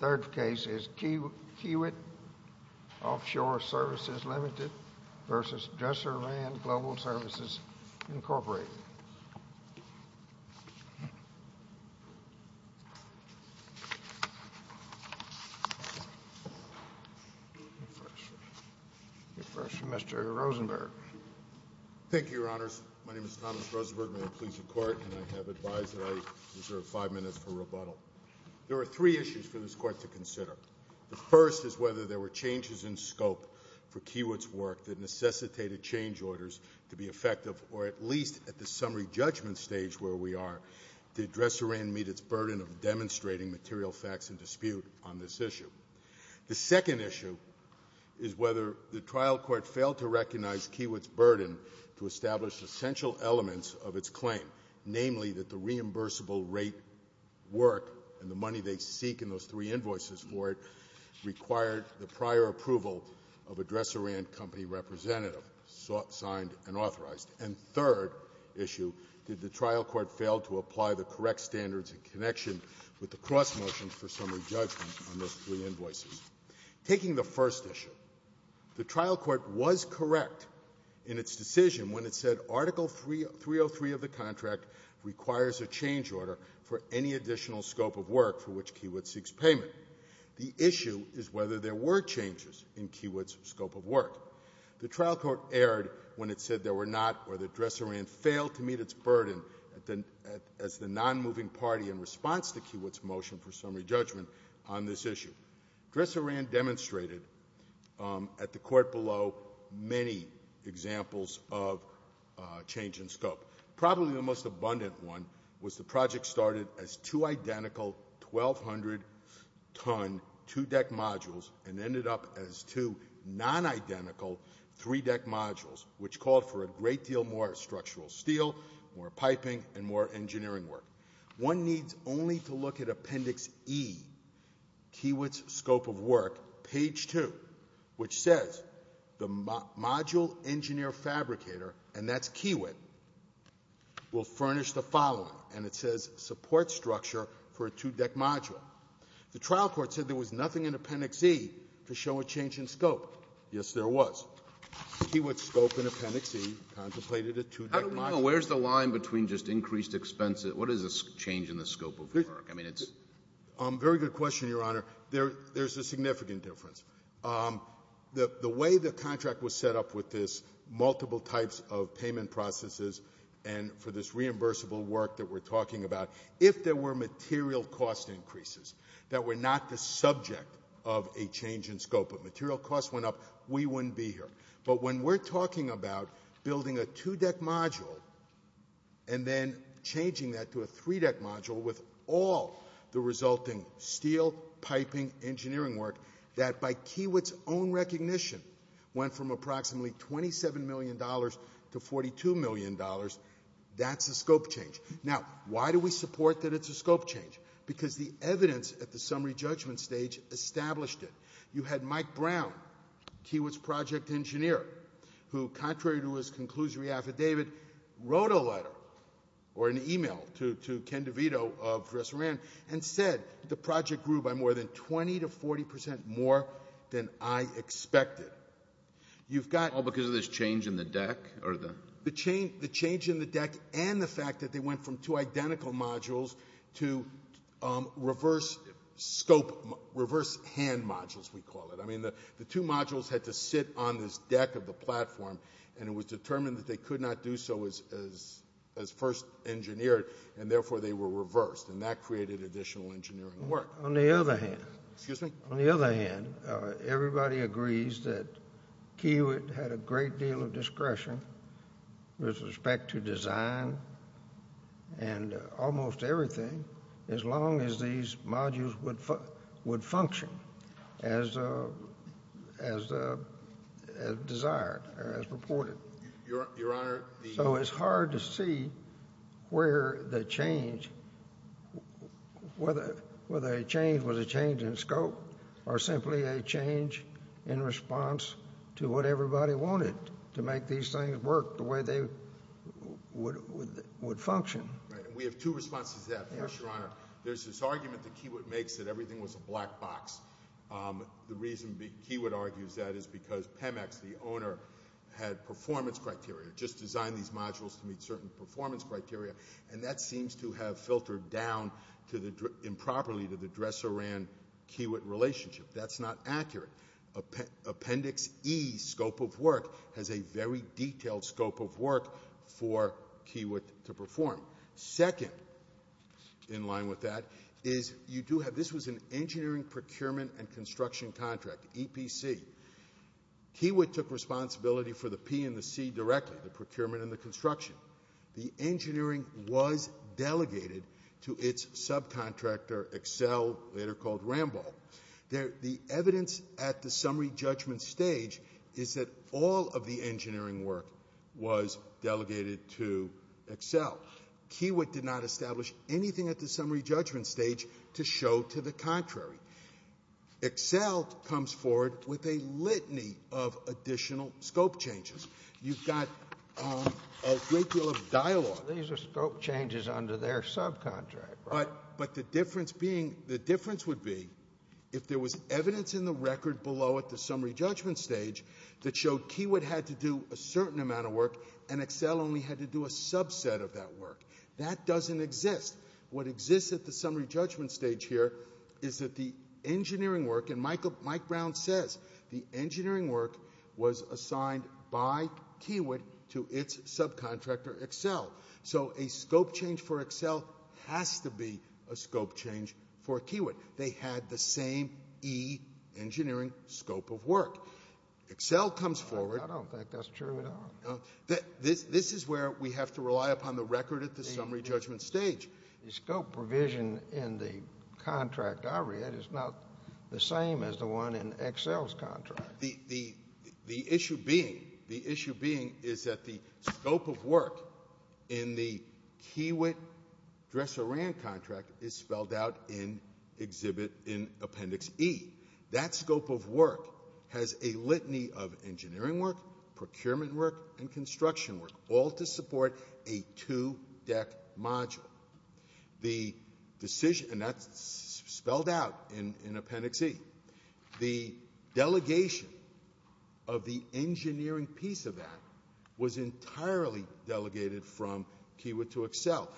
Services, Inc. Mr. Rosenberg. Thank you, Your Honors. My name is Thomas Rosenberg, Mayor of the Police Department, and I have advised that There are three issues for this Court to consider. The first is whether there were changes in scope for Kiewit's work that necessitated change orders to be effective, or at least at the summary judgment stage where we are, did Dresser Inn meet its burden of demonstrating material facts in dispute on this issue? The second issue is whether the trial court failed to recognize Kiewit's burden to establish essential elements of its claim, namely that the reimbursable rate work and the money they seek in those three invoices for it required the prior approval of a Dresser Inn company representative, signed and authorized. And third issue, did the trial court fail to apply the correct standards in connection with the cross-motion for summary judgment on those three invoices? Taking the first issue, the trial court was correct in its decision when it said Article 303 of the contract requires a change order for any additional scope of work for which Kiewit seeks payment. The issue is whether there were changes in Kiewit's scope of work. The trial court erred when it said there were not, or that Dresser Inn failed to meet its burden as the nonmoving party in response to Kiewit's motion for summary judgment on this issue. Dresser Inn demonstrated at the court below many examples of change in scope. Probably the most abundant one was the project started as two identical 1,200-ton two-deck modules and ended up as two non-identical three-deck modules, which called for a great deal more structural steel, more piping, and more engineering work. One needs only to look at Appendix E, Kiewit's scope of work, page 2, which says the module engineer fabricator, and that's Kiewit, will furnish the following. And it says support structure for a two-deck module. The trial court said there was nothing in Appendix E to show a change in scope. Yes, there was. Kiewit's scope in Appendix E contemplated a two-deck module. Where's the line between just increased expenses? What is a change in the scope of work? I mean, it's — Very good question, Your Honor. There's a significant difference. The way the contract was set up with this multiple types of payment processes and for this reimbursable work that we're talking about, if there were material cost increases that were not the subject of a change in scope, if material costs went up, we wouldn't be here. But when we're talking about building a two-deck module and then changing that to a three-deck module with all the resulting steel, piping, engineering work, that by Kiewit's own recognition went from approximately $27 million to $42 million, that's a scope change. Now, why do we support that it's a scope change? Because the evidence at the summary judgment stage established it. You had Mike Brown, Kiewit's project engineer, who, contrary to his conclusory affidavit, wrote a letter or an e-mail to Ken DeVito of Ressouran and said the project grew by more than 20 to 40 percent more than I expected. You've got — All because of this change in the deck or the — The change in the deck and the fact that they went from two identical modules to reverse scope — reverse hand modules, we call it. I mean, the two modules had to sit on this deck of the platform, and it was determined that they could not do so as first engineered, and therefore they were reversed, and that created additional engineering work. On the other hand — Excuse me? On the other hand, everybody agrees that Kiewit had a great deal of discretion with respect to design and almost everything, as long as these modules would function as desired or as purported. Your Honor, the — So it's hard to see where the change — whether a change was a change in scope or simply a change in response to what everybody wanted, to make these things work the way they would function. Right, and we have two responses to that. First, Your Honor, there's this argument that Kiewit makes that everything was a black box. The reason Kiewit argues that is because Pemex, the owner, had performance criteria, just designed these modules to meet certain performance criteria, and that seems to have filtered down improperly to the dresser-ran Kiewit relationship. That's not accurate. Appendix E, scope of work, has a very detailed scope of work for Kiewit to perform. Second, in line with that, is you do have — this was an engineering procurement and construction contract, EPC. Kiewit took responsibility for the P and the C directly, the procurement and the construction. The engineering was delegated to its subcontractor, Accel, later called Rambo. The evidence at the summary judgment stage is that all of the engineering work was delegated to Accel. Kiewit did not establish anything at the summary judgment stage to show to the contrary. Accel comes forward with a litany of additional scope changes. You've got a great deal of dialogue. These are scope changes under their subcontract, right? But the difference being, the difference would be, if there was evidence in the record below at the summary judgment stage that showed Kiewit had to do a certain amount of work and Accel only had to do a subset of that work. That doesn't exist. What exists at the summary judgment stage here is that the engineering work, and Mike Brown says the engineering work was assigned by Kiewit to its subcontractor, Accel. So a scope change for Accel has to be a scope change for Kiewit. They had the same E, engineering, scope of work. Accel comes forward. I don't think that's true at all. This is where we have to rely upon the record at the summary judgment stage. The scope provision in the contract I read is not the same as the one in Accel's contract. The issue being is that the scope of work in the Kiewit-Dresser-Rand contract is spelled out in Appendix E. That scope of work has a litany of engineering work, procurement work, and construction work, all to support a two-deck module. And that's spelled out in Appendix E. The delegation of the engineering piece of that was entirely delegated from Kiewit to Accel.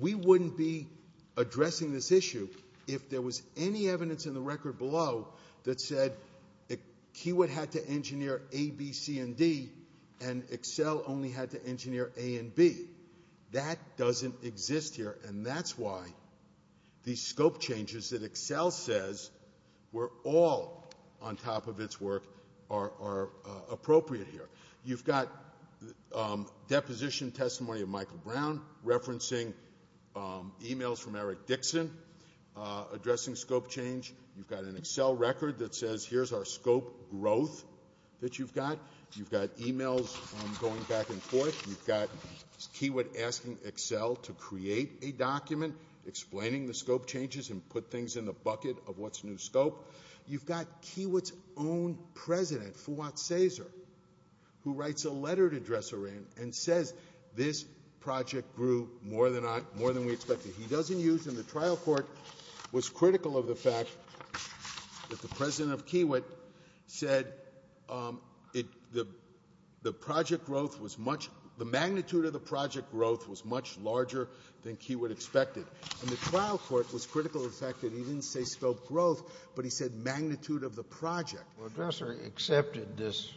We wouldn't be addressing this issue if there was any evidence in the record below that said Kiewit had to engineer A, B, C, and D, and Accel only had to engineer A and B. That doesn't exist here, and that's why these scope changes that Accel says were all on top of its work are appropriate here. You've got deposition testimony of Michael Brown referencing emails from Eric Dixon addressing scope change. You've got an Accel record that says here's our scope growth that you've got. You've got emails going back and forth. You've got Kiewit asking Accel to create a document explaining the scope changes and put things in the bucket of what's new scope. You've got Kiewit's own president, Fuad Cesar, who writes a letter to Dresser-Rand and says this project grew more than we expected. He doesn't use them. The trial court was critical of the fact that the president of Kiewit said the project growth was much — the magnitude of the project growth was much larger than Kiewit expected. And the trial court was critical of the fact that he didn't say scope growth, but he said magnitude of the project. Well, Dresser-Rand accepted this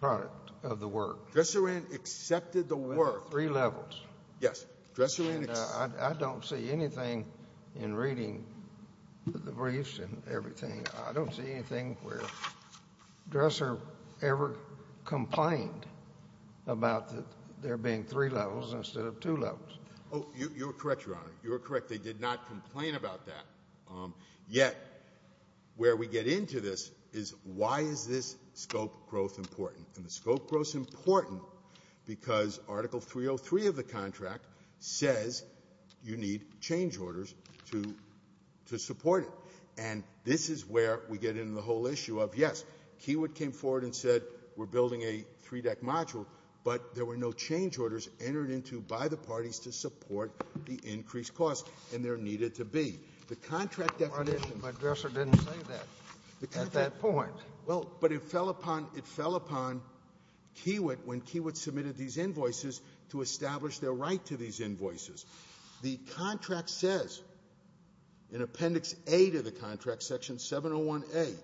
part of the work. Dresser-Rand accepted the work. Three levels. Yes. Dresser-Rand — I don't see anything in reading the briefs and everything. I don't see anything where Dresser ever complained about there being three levels instead of two levels. Oh, you're correct, Your Honor. You're correct. They did not complain about that. Yet where we get into this is why is this scope growth important. And the scope growth is important because Article 303 of the contract says you need change orders to support it. And this is where we get into the whole issue of, yes, Kiewit came forward and said we're building a three-deck module, but there were no change orders entered into by the parties to support the increased costs, and there needed to be. The contract definition — But Dresser didn't say that at that point. Well, but it fell upon — it fell upon Kiewit when Kiewit submitted these invoices to establish their right to these invoices. The contract says in Appendix A to the contract, Section 701A,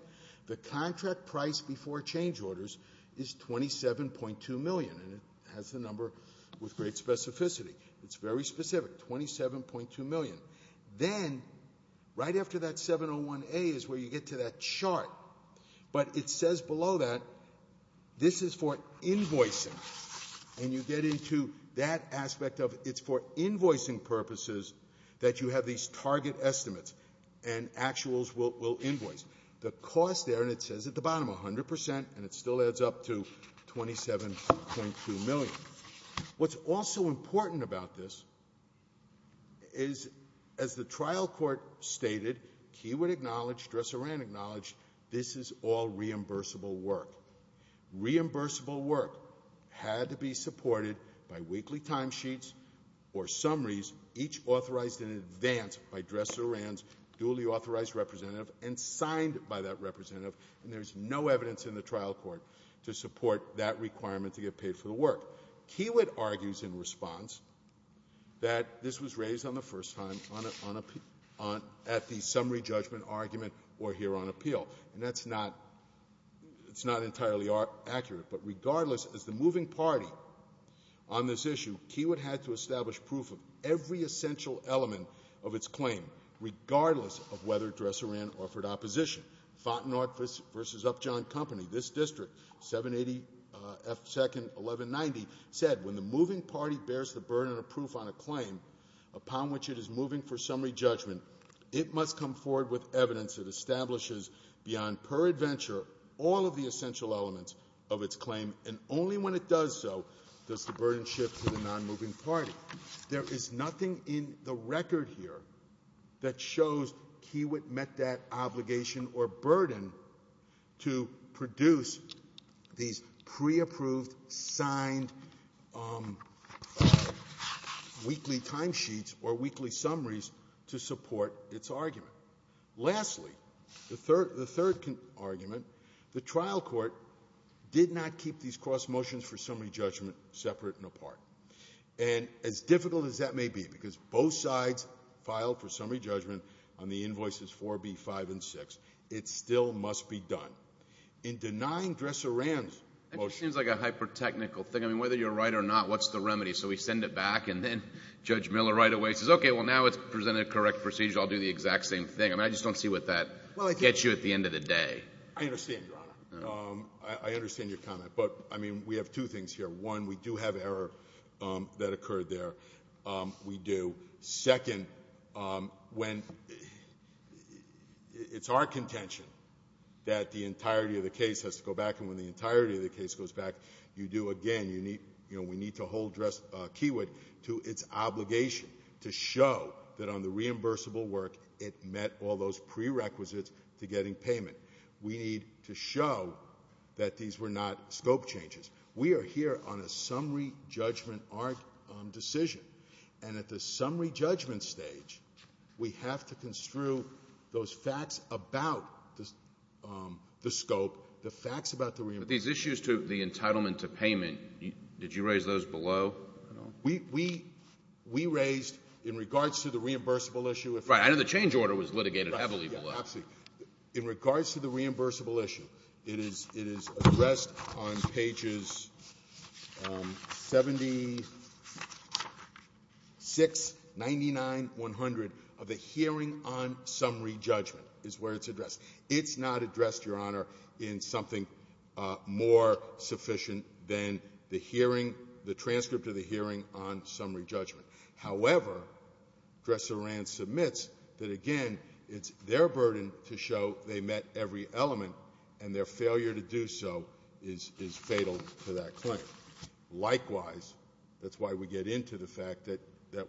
the contract price before change orders is $27.2 million. And it has the number with great specificity. It's very specific, $27.2 million. Then, right after that 701A is where you get to that chart, but it says below that this is for invoicing. And you get into that aspect of it's for invoicing purposes that you have these target estimates, and actuals will invoice. The cost there, and it says at the bottom, 100 percent, and it still adds up to $27.2 million. What's also important about this is, as the trial court stated, Kiewit acknowledged, Dresser and Rand acknowledged, this is all reimbursable work. Reimbursable work had to be supported by weekly timesheets or summaries, each authorized in advance by Dresser and Rand's duly authorized representative, and signed by that representative, and there's no evidence in the trial court to support that requirement to get paid for the work. Kiewit argues in response that this was raised on the first time at the summary judgment argument or here on appeal. And that's not entirely accurate, but regardless, as the moving party on this issue, Kiewit had to establish proof of every essential element of its claim, regardless of whether Dresser and Rand offered opposition. Fontenot v. Upjohn Company, this district, 782nd 1190, said, when the moving party bears the burden of proof on a claim upon which it is moving for summary judgment, it must come forward with evidence that establishes beyond per adventure all of the essential elements of its claim, and only when it does so does the burden shift to the nonmoving party. There is nothing in the record here that shows Kiewit met that obligation or burden to produce these preapproved, signed weekly timesheets or weekly summaries to support its argument. Lastly, the third argument, the trial court did not keep these cross motions for summary judgment separate and apart. And as difficult as that may be, because both sides filed for summary judgment on the invoices 4B, 5, and 6, it still must be done. In denying Dresser and Rand's motionó That just seems like a hyper-technical thing. I mean, whether you're right or not, what's the remedy? So we send it back, and then Judge Miller right away says, okay, well, now it's presented a correct procedure. I'll do the exact same thing. I mean, I just don't see what that gets you at the end of the day. I understand, Your Honor. I understand your comment. But, I mean, we have two things here. One, we do have error that occurred there. We do. Second, when it's our contention that the entirety of the case has to go back, and when the entirety of the case goes back, you do, again, you needóyou know, we need to hold DresseróKeywood to its obligation to show that on the reimbursable work, it met all those prerequisites to getting payment. We need to show that these were not scope changes. We are here on a summary judgment decision. And at the summary judgment stage, we have to construe those facts about the scope, the facts about the reimbursement. But these issues to the entitlement to payment, did you raise those below? We raised, in regards to the reimbursable issueó Right. I know the change order was litigated heavily below. In regards to the reimbursable issue, it is addressed on pages 76, 99, 100 of the hearing on summary judgment is where it's addressed. It's not addressed, Your Honor, in something more sufficient than the hearingóthe transcript of the hearing on summary judgment. However, Dresser and Rands submits that, again, it's their burden to show they met every element, and their failure to do so is fatal to that claim. Likewise, that's why we get into the fact that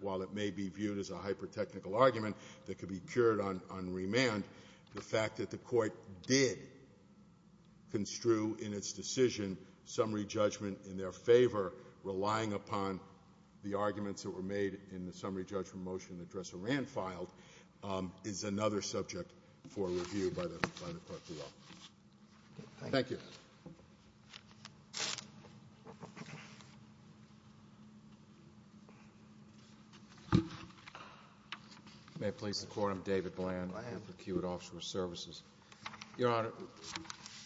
while it may be viewed as a hypertechnical argument that could be cured on remand, the fact that the Court did construe in its decision summary judgment in their favor, relying upon the arguments that were made in the summary judgment motion that Dresser and Rands filed, is another subject for review by the Court of Law. Thank you. Thank you. May it please the Court? I'm David Bland. I work for Kiewit Offshore Services. Your Honor,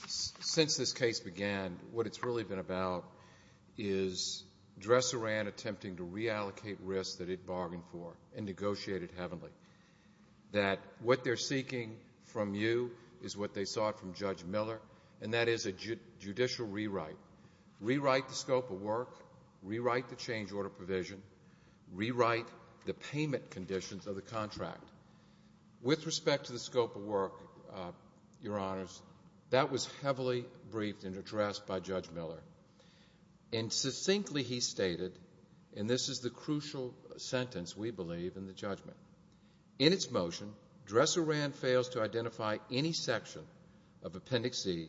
since this case began, what it's really been about is Dresser and Rands attempting to reallocate risks that it bargained for and negotiated heavenly. That what they're seeking from you is what they sought from Judge Miller, and that is a judicial rewrite. Rewrite the scope of work. Rewrite the change order provision. Rewrite the payment conditions of the contract. With respect to the scope of work, Your Honors, that was heavily briefed and addressed by Judge Miller. And succinctly he stated, and this is the crucial sentence we believe in the judgment, in its motion, Dresser and Rands fails to identify any section of Appendix E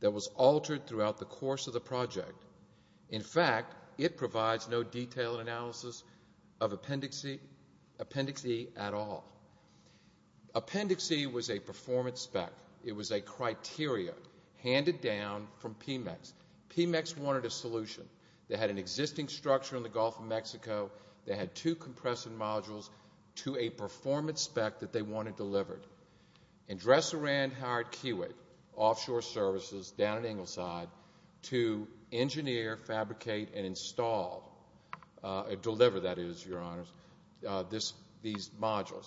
that was altered throughout the course of the project. In fact, it provides no detailed analysis of Appendix E at all. Appendix E was a performance spec. It was a criteria handed down from PMEX. PMEX wanted a solution. They had an existing structure in the Gulf of Mexico. They had two compressive modules to a performance spec that they wanted delivered. And Dresser and Rands hired Kiewit Offshore Services down at Ingleside to engineer, fabricate, and install, deliver, that is, Your Honors, these modules.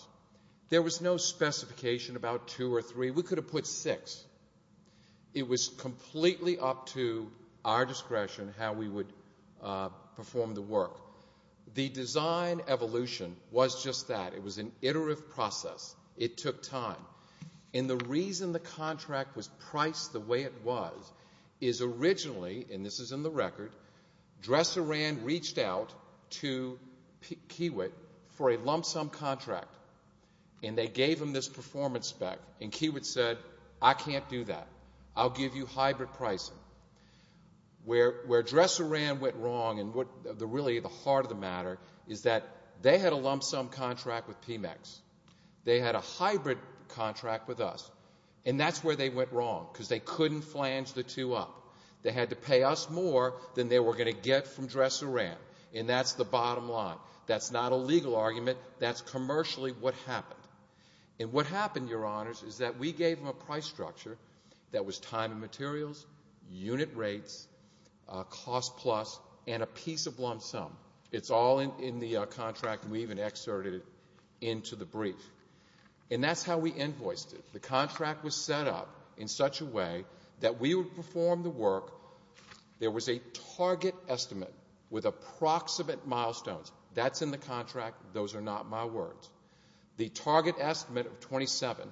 There was no specification about two or three. We could have put six. It was completely up to our discretion how we would perform the work. The design evolution was just that. It was an iterative process. It took time. And the reason the contract was priced the way it was is originally, and this is in the record, Dresser and Rands reached out to Kiewit for a lump sum contract. And they gave them this performance spec. And Kiewit said, I can't do that. I'll give you hybrid pricing. Where Dresser and Rands went wrong, and really the heart of the matter, is that they had a lump sum contract with PMEX. They had a hybrid contract with us. And that's where they went wrong because they couldn't flange the two up. They had to pay us more than they were going to get from Dresser and Rands. And that's the bottom line. That's not a legal argument. That's commercially what happened. And what happened, Your Honors, is that we gave them a price structure that was time and materials, unit rates, cost plus, and a piece of lump sum. It's all in the contract. We even excerpted it into the brief. And that's how we invoiced it. The contract was set up in such a way that we would perform the work. There was a target estimate with approximate milestones. That's in the contract. Those are not my words. The target estimate of 27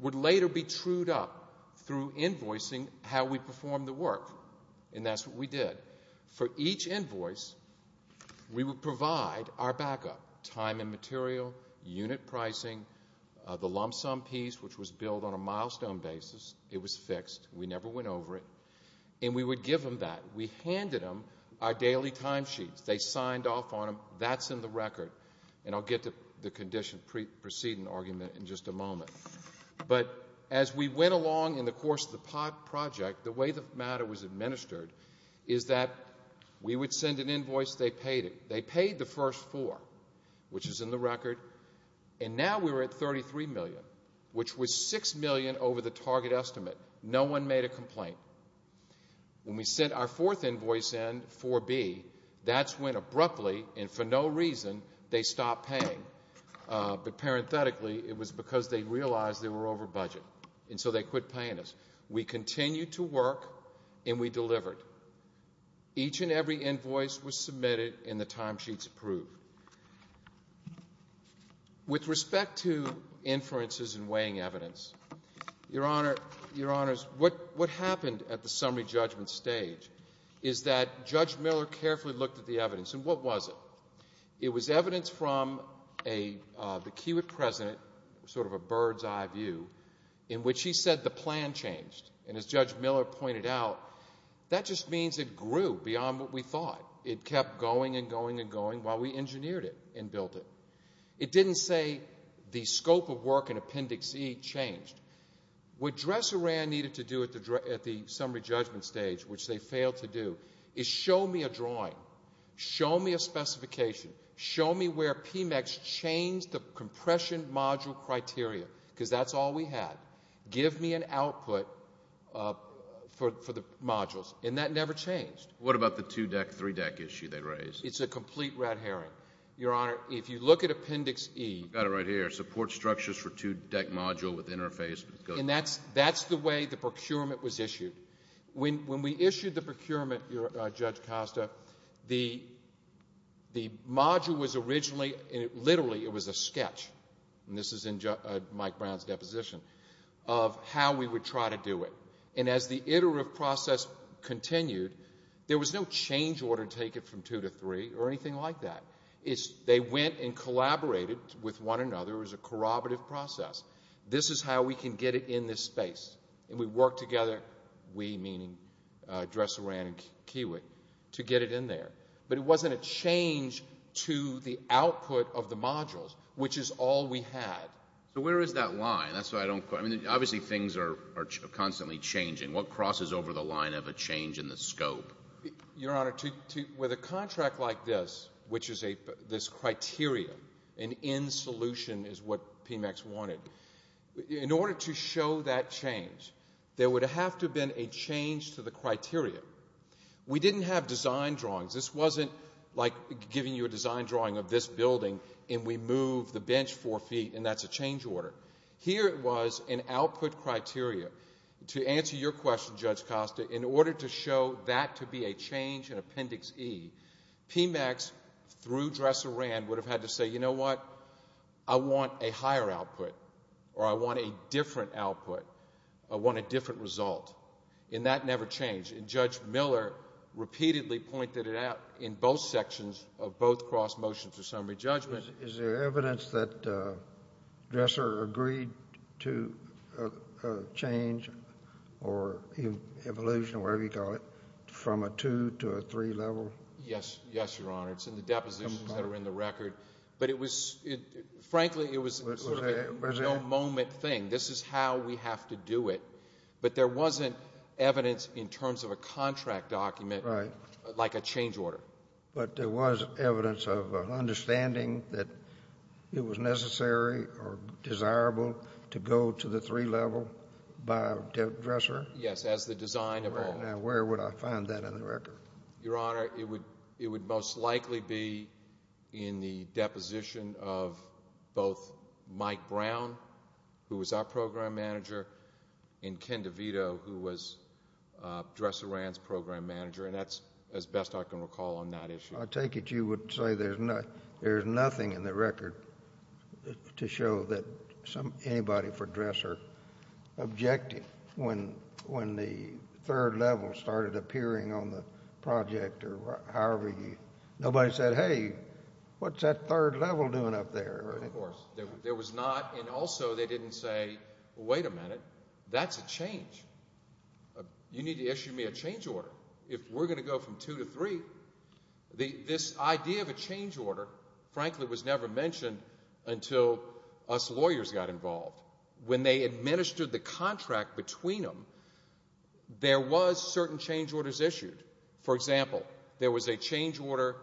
would later be trued up through invoicing how we perform the work. And that's what we did. For each invoice, we would provide our backup, time and material, unit pricing, the lump sum piece, which was billed on a milestone basis. It was fixed. We never went over it. And we would give them that. We handed them our daily time sheets. They signed off on them. That's in the record. And I'll get to the preceding argument in just a moment. But as we went along in the course of the project, the way the matter was administered is that we would send an invoice. They paid it. They paid the first four, which is in the record. And now we're at $33 million, which was $6 million over the target estimate. No one made a complaint. When we sent our fourth invoice in, 4B, that's when abruptly and for no reason they stopped paying. But parenthetically, it was because they realized they were over budget, and so they quit paying us. We continued to work, and we delivered. Each and every invoice was submitted and the time sheets approved. With respect to inferences and weighing evidence, Your Honors, what happened at the summary judgment stage is that Judge Miller carefully looked at the evidence. And what was it? It was evidence from the Kiewit president, sort of a bird's eye view, in which he said the plan changed. And as Judge Miller pointed out, that just means it grew beyond what we thought. It kept going and going and going while we engineered it and built it. It didn't say the scope of work in Appendix E changed. What Dresser ran needed to do at the summary judgment stage, which they failed to do, is show me a drawing, show me a specification, show me where PMEX changed the compression module criteria, because that's all we had. Give me an output for the modules. What about the two-deck, three-deck issue they raised? It's a complete red herring. Your Honor, if you look at Appendix E. I've got it right here. Support structures for two-deck module with interface. And that's the way the procurement was issued. When we issued the procurement, Judge Costa, the module was originally, literally it was a sketch, and this is in Mike Brown's deposition, of how we would try to do it. And as the iterative process continued, there was no change order to take it from two to three or anything like that. They went and collaborated with one another. It was a corroborative process. This is how we can get it in this space. And we worked together, we meaning Dresser ran and Kiewit, to get it in there. But it wasn't a change to the output of the modules, which is all we had. So where is that line? That's what I don't quite understand. Obviously things are constantly changing. What crosses over the line of a change in the scope? Your Honor, with a contract like this, which is this criteria, an in-solution is what PMEX wanted, in order to show that change, there would have to have been a change to the criteria. We didn't have design drawings. This wasn't like giving you a design drawing of this building and we move the bench four feet and that's a change order. Here it was an output criteria. To answer your question, Judge Costa, in order to show that to be a change in Appendix E, PMEX, through Dresser ran, would have had to say, you know what, I want a higher output or I want a different output. I want a different result. And that never changed. And Judge Miller repeatedly pointed it out in both sections of both cross motions of summary judgment. Is there evidence that Dresser agreed to a change or evolution, whatever you call it, from a 2 to a 3 level? Yes. Yes, Your Honor. It's in the depositions that are in the record. But it was, frankly, it was sort of a no-moment thing. This is how we have to do it. But there wasn't evidence in terms of a contract document like a change order. But there was evidence of an understanding that it was necessary or desirable to go to the 3 level by Dresser? Yes, as the design evolved. Now, where would I find that in the record? Your Honor, it would most likely be in the deposition of both Mike Brown, who was our program manager, and Ken DeVito, who was Dresser ran's program manager. And that's as best I can recall on that issue. I take it you would say there's nothing in the record to show that anybody for Dresser objected when the 3rd level started appearing on the project or however you, nobody said, hey, what's that 3rd level doing up there? Of course. There was not, and also they didn't say, wait a minute, that's a change. You need to issue me a change order. If we're going to go from 2 to 3, this idea of a change order, frankly, was never mentioned until us lawyers got involved. When they administered the contract between them, there was certain change orders issued. For example, there was a change order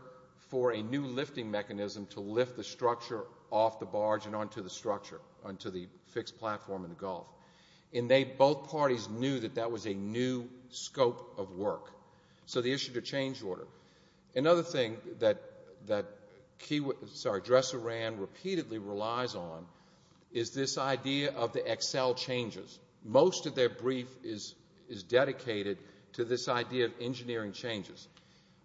for a new lifting mechanism to lift the structure off the barge and onto the structure, onto the fixed platform in the Gulf. And both parties knew that that was a new scope of work. So they issued a change order. Another thing that Dresser ran repeatedly relies on is this idea of the Excel changes. Most of their brief is dedicated to this idea of engineering changes.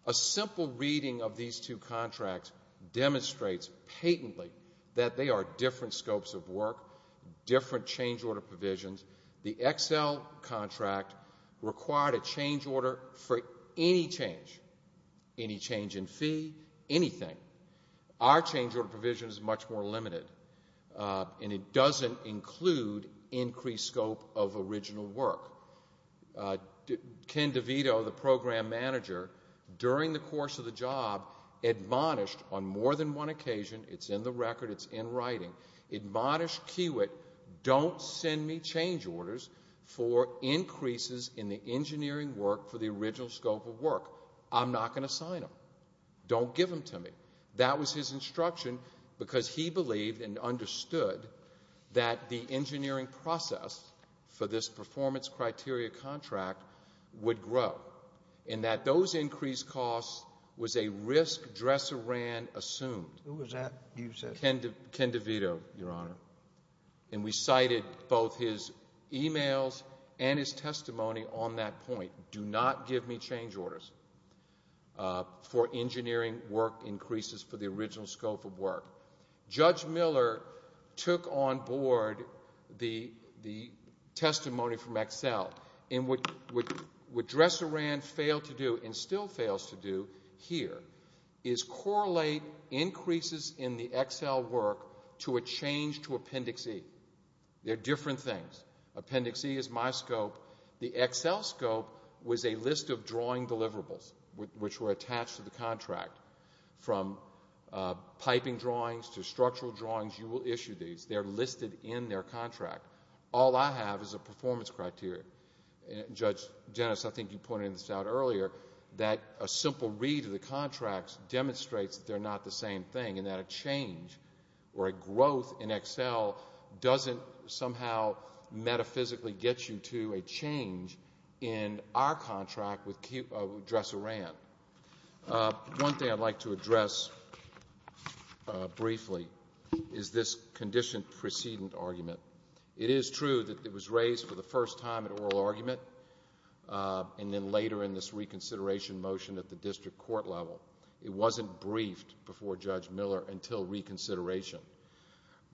A simple reading of these two contracts demonstrates patently that they are different scopes of work, different change order provisions. The Excel contract required a change order for any change, any change in fee, anything. Our change order provision is much more limited, and it doesn't include increased scope of original work. Ken DeVito, the program manager, during the course of the job, admonished on more than one occasion, it's in the record, it's in writing, admonished Kiewit don't send me change orders for increases in the engineering work for the original scope of work. I'm not going to sign them. Don't give them to me. That was his instruction because he believed and understood that the engineering process for this performance criteria contract would grow and that those increased costs was a risk Dresser ran assumed. Who was that you said? Ken DeVito, Your Honor. And we cited both his emails and his testimony on that point. Do not give me change orders for engineering work increases for the original scope of work. Judge Miller took on board the testimony from Excel, and what Dresser ran failed to do and still fails to do here is correlate increases in the Excel work to a change to Appendix E. They're different things. Appendix E is my scope. The Excel scope was a list of drawing deliverables which were attached to the contract. From piping drawings to structural drawings, you will issue these. They're listed in their contract. All I have is a performance criteria. Judge Jennings, I think you pointed this out earlier, that a simple read of the contracts demonstrates that they're not the same thing and that a change or a growth in Excel doesn't somehow metaphysically get you to a change in our contract with Dresser ran. One thing I'd like to address briefly is this condition precedent argument. It is true that it was raised for the first time at oral argument and then later in this reconsideration motion at the district court level. It wasn't briefed before Judge Miller until reconsideration,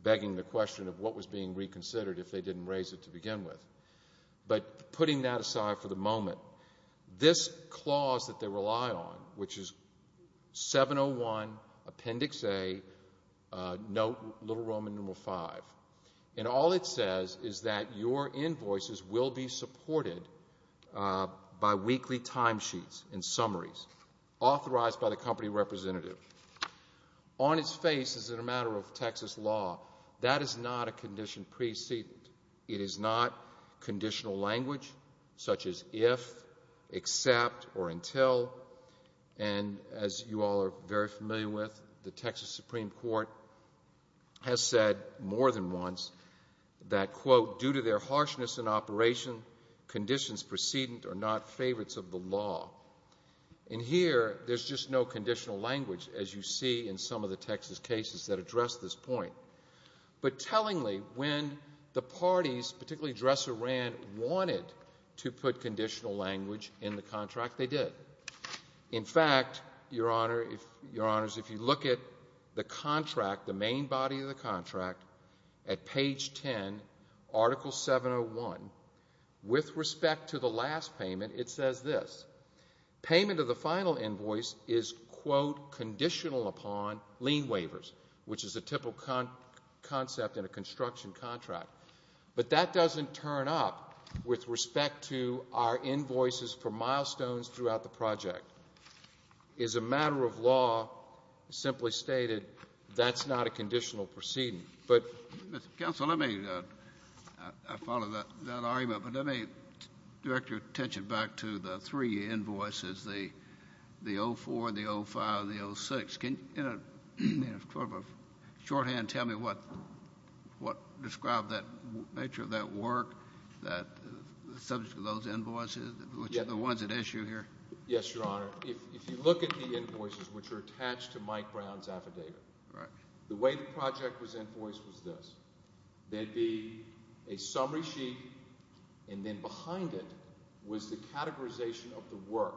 begging the question of what was being reconsidered if they didn't raise it to begin with. But putting that aside for the moment, this clause that they rely on, which is 701 Appendix A, Note Little Roman No. 5, and all it says is that your invoices will be supported by weekly timesheets and summaries authorized by the company representative. On its face, as a matter of Texas law, that is not a condition precedent. It is not conditional language such as if, except, or until. And as you all are very familiar with, the Texas Supreme Court has said more than once that, quote, due to their harshness in operation, conditions precedent are not favorites of the law. And here there's just no conditional language, as you see in some of the Texas cases that address this point. But tellingly, when the parties, particularly Dresser-Rand, wanted to put conditional language in the contract, they did. In fact, Your Honors, if you look at the contract, the main body of the contract, at page 10, Article 701, with respect to the last payment, it says this. Payment of the final invoice is, quote, conditional upon lien waivers, which is a typical concept in a construction contract. But that doesn't turn up with respect to our invoices for milestones throughout the project. As a matter of law, simply stated, that's not a conditional precedent. Counsel, let me follow that argument, but let me direct your attention back to the three invoices, the 04, the 05, the 06. Can you, in a sort of shorthand, tell me what described that nature of that work, the subject of those invoices, which are the ones at issue here? Yes, Your Honor. If you look at the invoices, which are attached to Mike Brown's affidavit, the way the project was invoiced was this. There would be a summary sheet, and then behind it was the categorization of the work.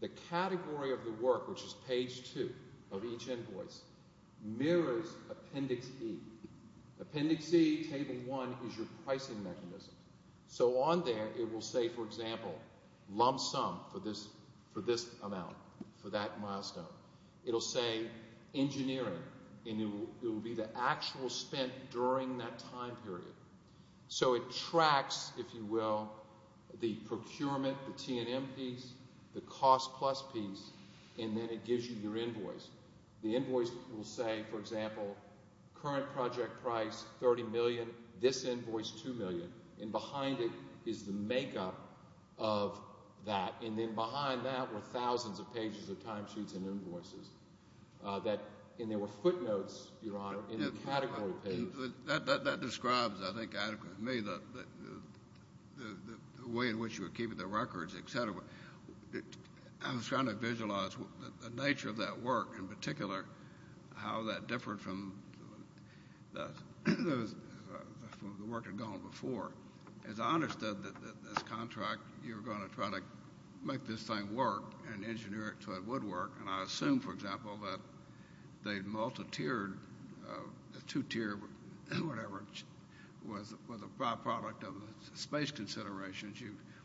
The category of the work, which is page two of each invoice, mirrors Appendix E. Appendix E, Table 1, is your pricing mechanism. So on there it will say, for example, lump sum for this amount, for that milestone. It will say engineering, and it will be the actual spent during that time period. So it tracks, if you will, the procurement, the T&M piece, the cost plus piece, and then it gives you your invoice. The invoice will say, for example, current project price $30 million, this invoice $2 million, and behind it is the makeup of that. And then behind that were thousands of pages of timesheets and invoices. And there were footnotes, Your Honor, in the category page. That describes, I think, adequately to me the way in which you were keeping the records, et cetera. I was trying to visualize the nature of that work, in particular how that differed from the work that had gone before. As I understood this contract, you were going to try to make this thing work and engineer it so it would work. And I assume, for example, that they multi-tiered, two-tiered, whatever, was a byproduct of the space considerations.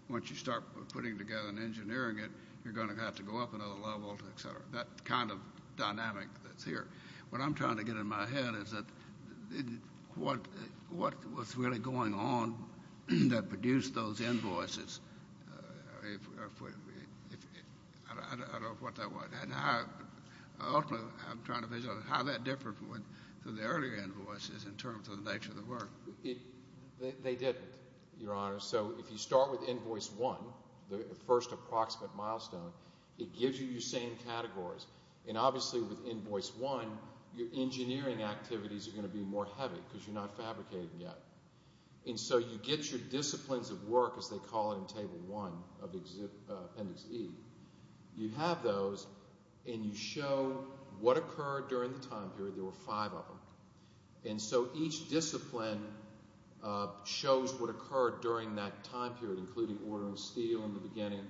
Once you start putting together and engineering it, you're going to have to go up another level, et cetera, that kind of dynamic that's here. What I'm trying to get in my head is what was really going on that produced those invoices. I don't know what that was. Ultimately, I'm trying to visualize how that differed from the earlier invoices in terms of the nature of the work. They didn't, Your Honor. So if you start with Invoice 1, the first approximate milestone, it gives you your same categories. And obviously with Invoice 1, your engineering activities are going to be more heavy because you're not fabricating yet. And so you get your disciplines of work, as they call it in Table 1 of Appendix E. You have those, and you show what occurred during the time period. There were five of them. And so each discipline shows what occurred during that time period, including order and steel in the beginning,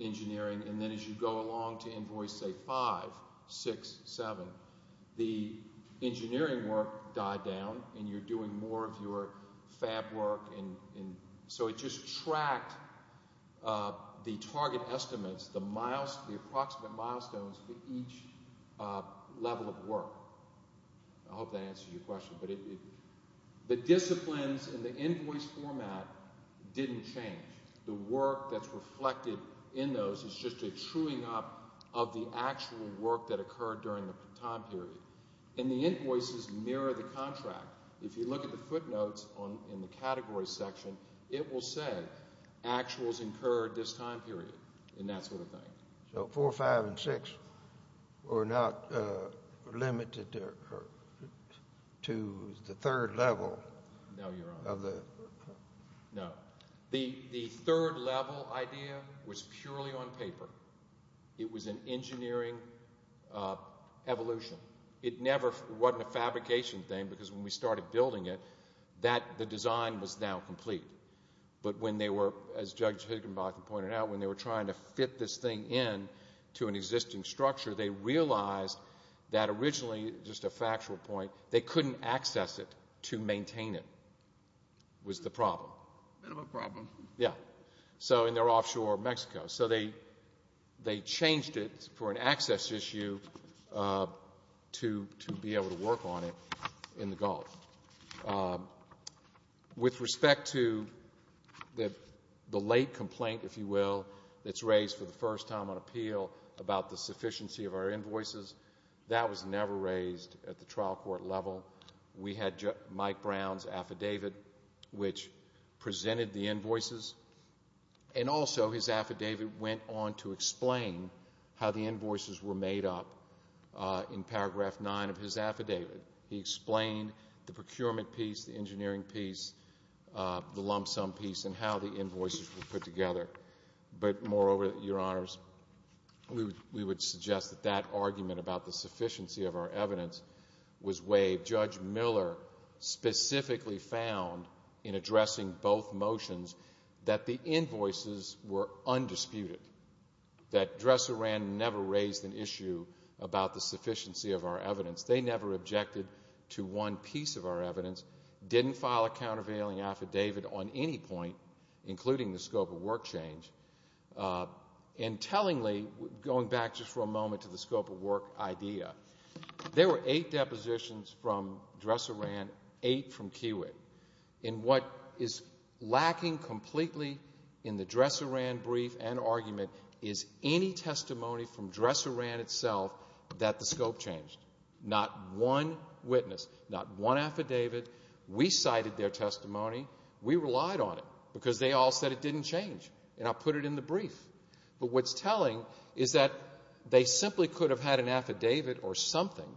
engineering. And then as you go along to Invoice, say, 5, 6, 7, the engineering work died down and you're doing more of your fab work. So it just tracked the target estimates, the approximate milestones for each level of work. I hope that answers your question. But the disciplines in the invoice format didn't change. The work that's reflected in those is just a truing up of the actual work that occurred during the time period. And the invoices mirror the contract. If you look at the footnotes in the category section, it will say actuals incurred this time period and that sort of thing. So 4, 5, and 6 were not limited to the third level? No, Your Honor. No. The third level idea was purely on paper. It was an engineering evolution. It never wasn't a fabrication thing because when we started building it, the design was now complete. But when they were, as Judge Higginbotham pointed out, when they were trying to fit this thing in to an existing structure, they realized that originally, just a factual point, they couldn't access it to maintain it was the problem. Bit of a problem. Yeah. So in their offshore Mexico. So they changed it for an access issue to be able to work on it in the Gulf. With respect to the late complaint, if you will, that's raised for the first time on appeal about the sufficiency of our invoices, that was never raised at the trial court level. We had Mike Brown's affidavit, which presented the invoices, and also his affidavit went on to explain how the invoices were made up in paragraph 9 of his affidavit. He explained the procurement piece, the engineering piece, the lump sum piece, and how the invoices were put together. But moreover, Your Honors, we would suggest that that argument about the sufficiency of our evidence was something that Judge Miller specifically found in addressing both motions, that the invoices were undisputed, that Dresser and Rand never raised an issue about the sufficiency of our evidence. They never objected to one piece of our evidence, didn't file a countervailing affidavit on any point, including the scope of work change. And tellingly, going back just for a moment to the scope of work idea, there were eight depositions from Dresser and Rand, eight from Kiewit. And what is lacking completely in the Dresser and Rand brief and argument is any testimony from Dresser and Rand itself that the scope changed. Not one witness, not one affidavit. We cited their testimony. We relied on it because they all said it didn't change, and I put it in the brief. But what's telling is that they simply could have had an affidavit or something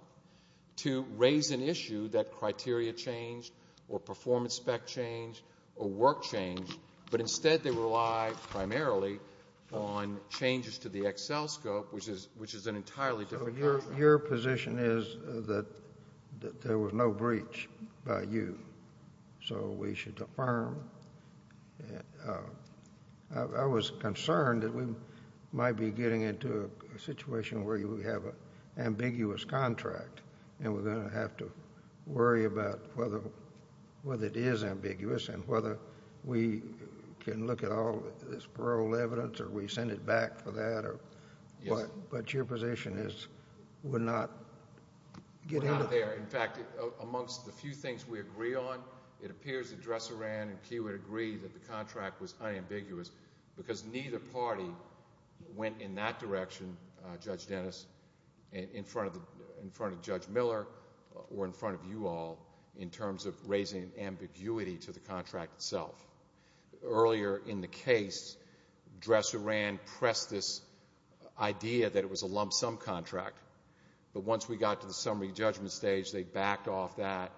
to raise an issue that criteria changed or performance spec changed or work changed, but instead they relied primarily on changes to the Excel scope, which is an entirely different matter. So your position is that there was no breach by you, so we should affirm. I was concerned that we might be getting into a situation where we have an ambiguous contract and we're going to have to worry about whether it is ambiguous and whether we can look at all this parole evidence or we send it back for that or what. But your position is we're not getting to that. We're not there. In fact, amongst the few things we agree on, it appears that Dresser ran and Keywood agreed that the contract was unambiguous because neither party went in that direction, Judge Dennis, in front of Judge Miller or in front of you all in terms of raising ambiguity to the contract itself. Earlier in the case, Dresser ran, pressed this idea that it was a lump sum contract. But once we got to the summary judgment stage, they backed off that,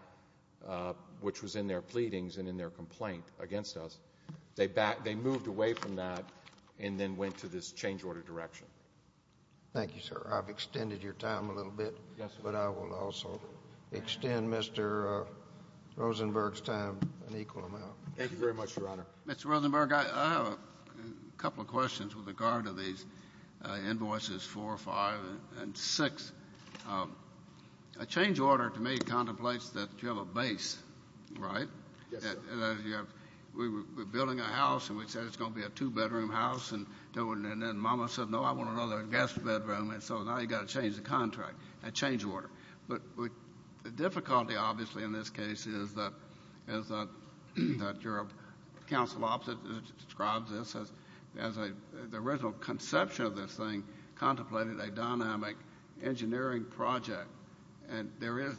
which was in their pleadings and in their complaint against us. They moved away from that and then went to this change order direction. Thank you, sir. I've extended your time a little bit, but I will also extend Mr. Rosenberg's time an equal amount. Thank you very much, Your Honor. Mr. Rosenberg, I have a couple of questions with regard to these invoices 4, 5, and 6. A change order to me contemplates that you have a base, right? Yes, sir. We're building a house, and we said it's going to be a two-bedroom house, and then Mama said, no, I want another guest bedroom. And so now you've got to change the contract, a change order. But the difficulty, obviously, in this case is that your counsel opposite describes this as a the original conception of this thing contemplated a dynamic engineering project. And there is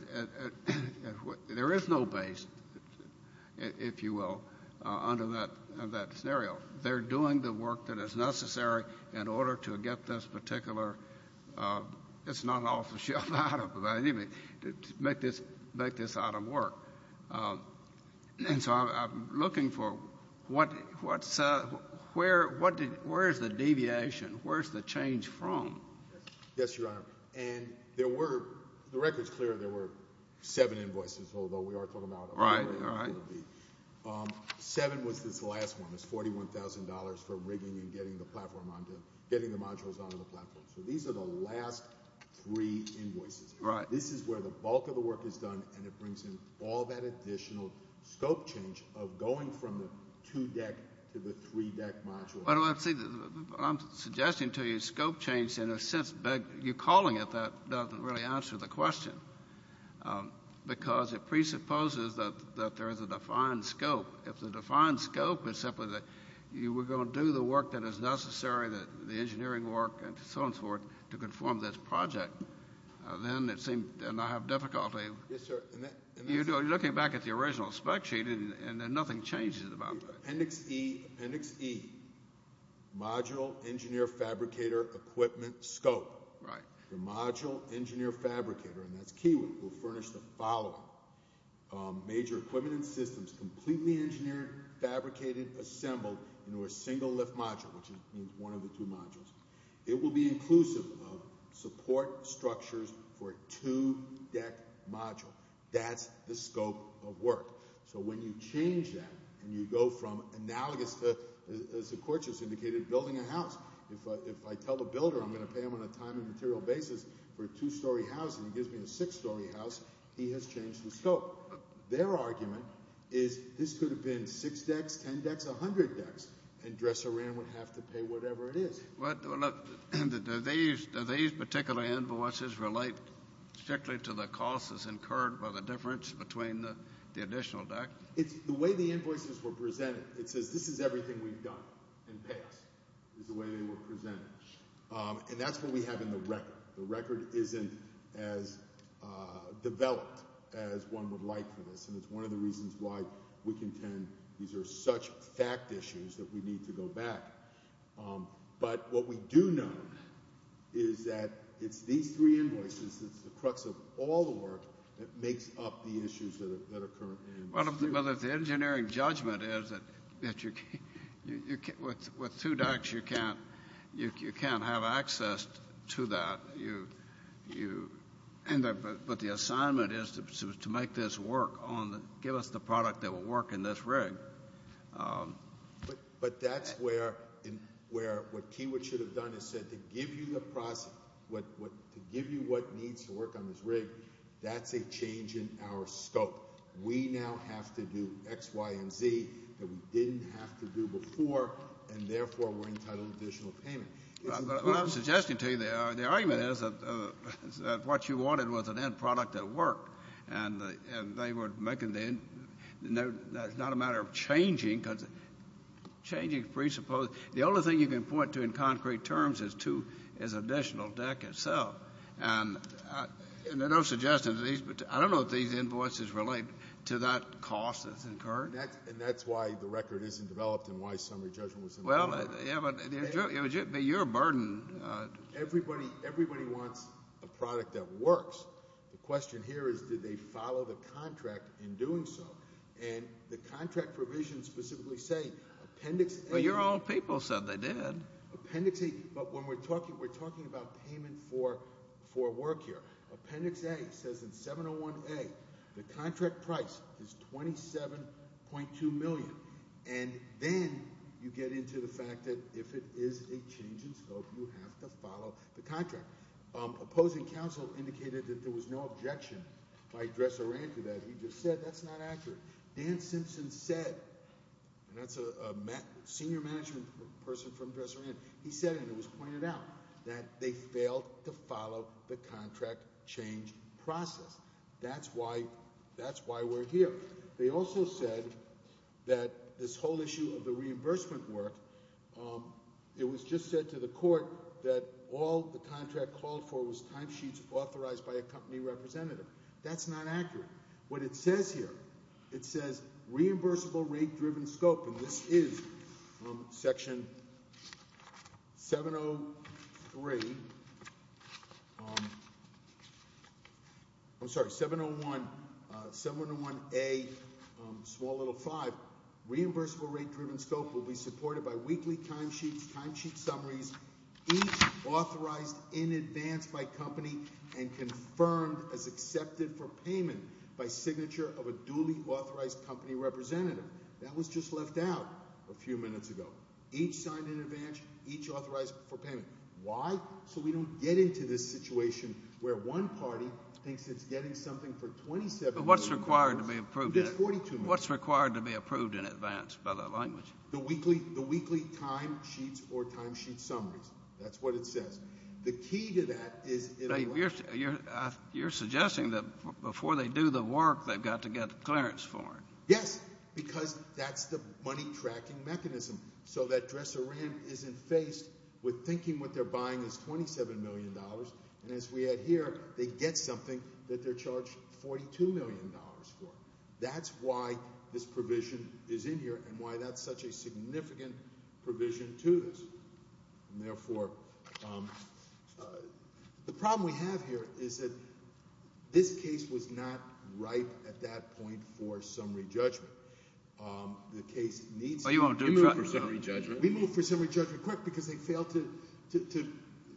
no base, if you will, under that scenario. They're doing the work that is necessary in order to get this particular it's not an off-the-shelf item, but anyway, to make this item work. And so I'm looking for where is the deviation? Where is the change from? Yes, Your Honor. And there were, the record is clear, there were seven invoices, although we are talking about a lot more than there will be. Right, right. Seven was this last one. It's $41,000 for rigging and getting the modules onto the platform. So these are the last three invoices. Right. This is where the bulk of the work is done, and it brings in all that additional scope change of going from the two-deck to the three-deck module. I'm suggesting to you scope change, in a sense, but you're calling it that doesn't really answer the question, because it presupposes that there is a defined scope. If the defined scope is simply that you were going to do the work that is necessary, the engineering work and so on and so forth, to conform this project, then it seems to not have difficulty. Yes, sir. You're looking back at the original spec sheet, and nothing changes about that. Appendix E, Appendix E, Module Engineer Fabricator Equipment Scope. Right. The Module Engineer Fabricator, and that's key, will furnish the following. Major equipment and systems completely engineered, fabricated, assembled into a single lift module, which is one of the two modules. It will be inclusive of support structures for a two-deck module. That's the scope of work. So when you change that and you go from analogous to, as the court just indicated, building a house, if I tell the builder I'm going to pay him on a time and material basis for a two-story house and he gives me a six-story house, he has changed the scope. Their argument is this could have been six decks, ten decks, a hundred decks, and dresser in would have to pay whatever it is. Look, do these particular invoices relate strictly to the cost that's incurred by the difference between the additional deck? The way the invoices were presented, it says this is everything we've done, and pay us, is the way they were presented. And that's what we have in the record. The record isn't as developed as one would like for this, and it's one of the reasons why we contend these are such fact issues that we need to go back. But what we do know is that it's these three invoices, it's the crux of all the work, that makes up the issues that are currently in dispute. Well, if the engineering judgment is that with two decks you can't have access to that, but the assignment is to make this work, give us the product that will work in this rig. But that's where what Kiewit should have done is said to give you the process, to give you what needs to work on this rig, that's a change in our scope. We now have to do X, Y, and Z that we didn't have to do before, and therefore we're entitled to additional payment. Well, I'm suggesting to you the argument is that what you wanted was an end product that worked, and they were making the end. That's not a matter of changing, because changing presupposes. The only thing you can point to in concrete terms is additional deck itself. And there are no suggestions. I don't know if these invoices relate to that cost that's incurred. And that's why the record isn't developed and why summary judgment wasn't developed. Well, you're a burden. Everybody wants a product that works. The question here is did they follow the contract in doing so? And the contract provisions specifically say Appendix A. Well, your old people said they did. Appendix A, but when we're talking about payment for work here, Appendix A says in 701A the contract price is $27.2 million, and then you get into the fact that if it is a change in scope, you have to follow the contract. Opposing counsel indicated that there was no objection by Dresserand to that. He just said that's not accurate. Dan Simpson said, and that's a senior management person from Dresserand, he said and it was pointed out that they failed to follow the contract change process. That's why we're here. They also said that this whole issue of the reimbursement work, it was just said to the court that all the contract called for was timesheets authorized by a company representative. That's not accurate. What it says here, it says reimbursable rate-driven scope, and this is section 703, I'm sorry, 701A, small little five. Reimbursable rate-driven scope will be supported by weekly timesheets, timesheet summaries, each authorized in advance by company and confirmed as accepted for payment by signature of a duly authorized company representative. That was just left out a few minutes ago. Each signed in advance, each authorized for payment. Why? So we don't get into this situation where one party thinks it's getting something for $2,700. But what's required to be approved in advance by the language? The weekly timesheets or timesheet summaries. That's what it says. The key to that is in a way. You're suggesting that before they do the work, they've got to get clearance for it. Yes, because that's the money tracking mechanism. So that dresser ram isn't faced with thinking what they're buying is $27 million, and as we add here, they get something that they're charged $42 million for. That's why this provision is in here and why that's such a significant provision to this. Therefore, the problem we have here is that this case was not ripe at that point for summary judgment. The case needs to be moved for summary judgment because they failed to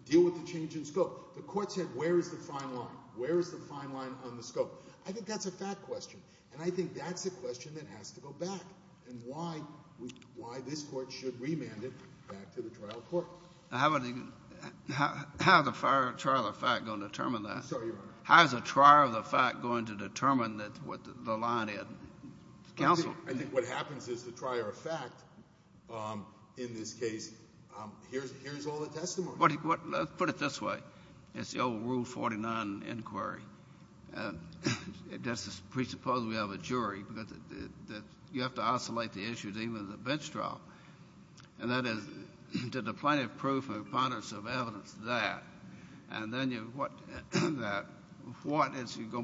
deal with the change in scope. The court said where is the fine line? Where is the fine line on the scope? I think that's a fact question, and I think that's a question that has to go back, and why this Court should remand it back to the trial court. How is a trial of fact going to determine that? I'm sorry, Your Honor. How is a trial of fact going to determine what the line is? Counsel. I think what happens is the trial of fact in this case, here's all the testimony. Let's put it this way. It's the old Rule 49 inquiry. That's the presupposition we have of a jury. You have to oscillate the issues even in the bench trial. And that is, did the plaintiff prove a preponderance of evidence there? And then what is going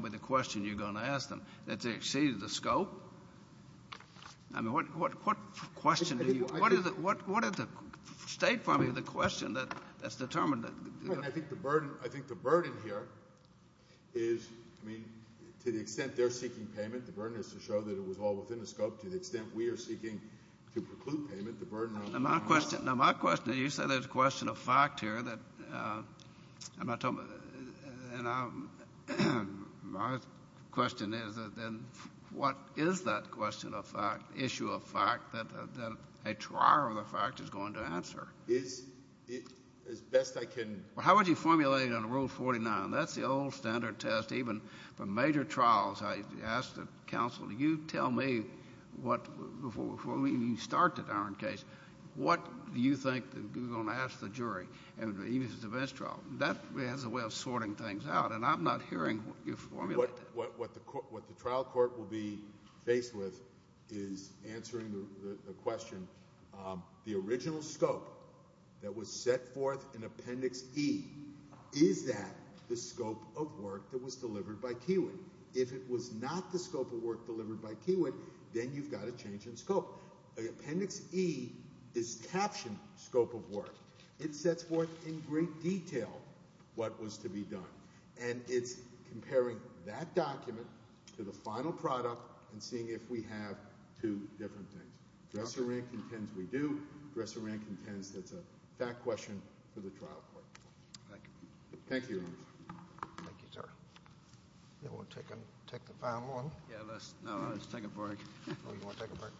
to be the question you're going to ask them? Does it exceed the scope? I mean, what question do you ask? What is the state for me the question that's determined? I think the burden here is, I mean, to the extent they're seeking payment, the burden is to show that it was all within the scope, to the extent we are seeking to preclude payment. Now, my question is, you said there's a question of fact here. And my question is, then, what is that question of fact, issue of fact, that a trial of fact is going to answer? As best I can... Well, how would you formulate it under Rule 49? That's the old standard test. Even for major trials, I ask the counsel, you tell me before we start the darn case, what do you think you're going to ask the jury, even if it's a bench trial? That is a way of sorting things out. And I'm not hearing what you formulated. What the trial court will be faced with is answering the question, the original scope that was set forth in Appendix E, is that the scope of work that was delivered by Kiewit? If it was not the scope of work delivered by Kiewit, then you've got to change in scope. Appendix E is captioned scope of work. It sets forth in great detail what was to be done. And it's comparing that document to the final product and seeing if we have two different things. Dresser-Rank intends we do. Dresser-Rank intends that's a fact question for the trial court. Thank you. Thank you, Your Honor. Thank you, sir. We'll take the final one. No, let's take a break.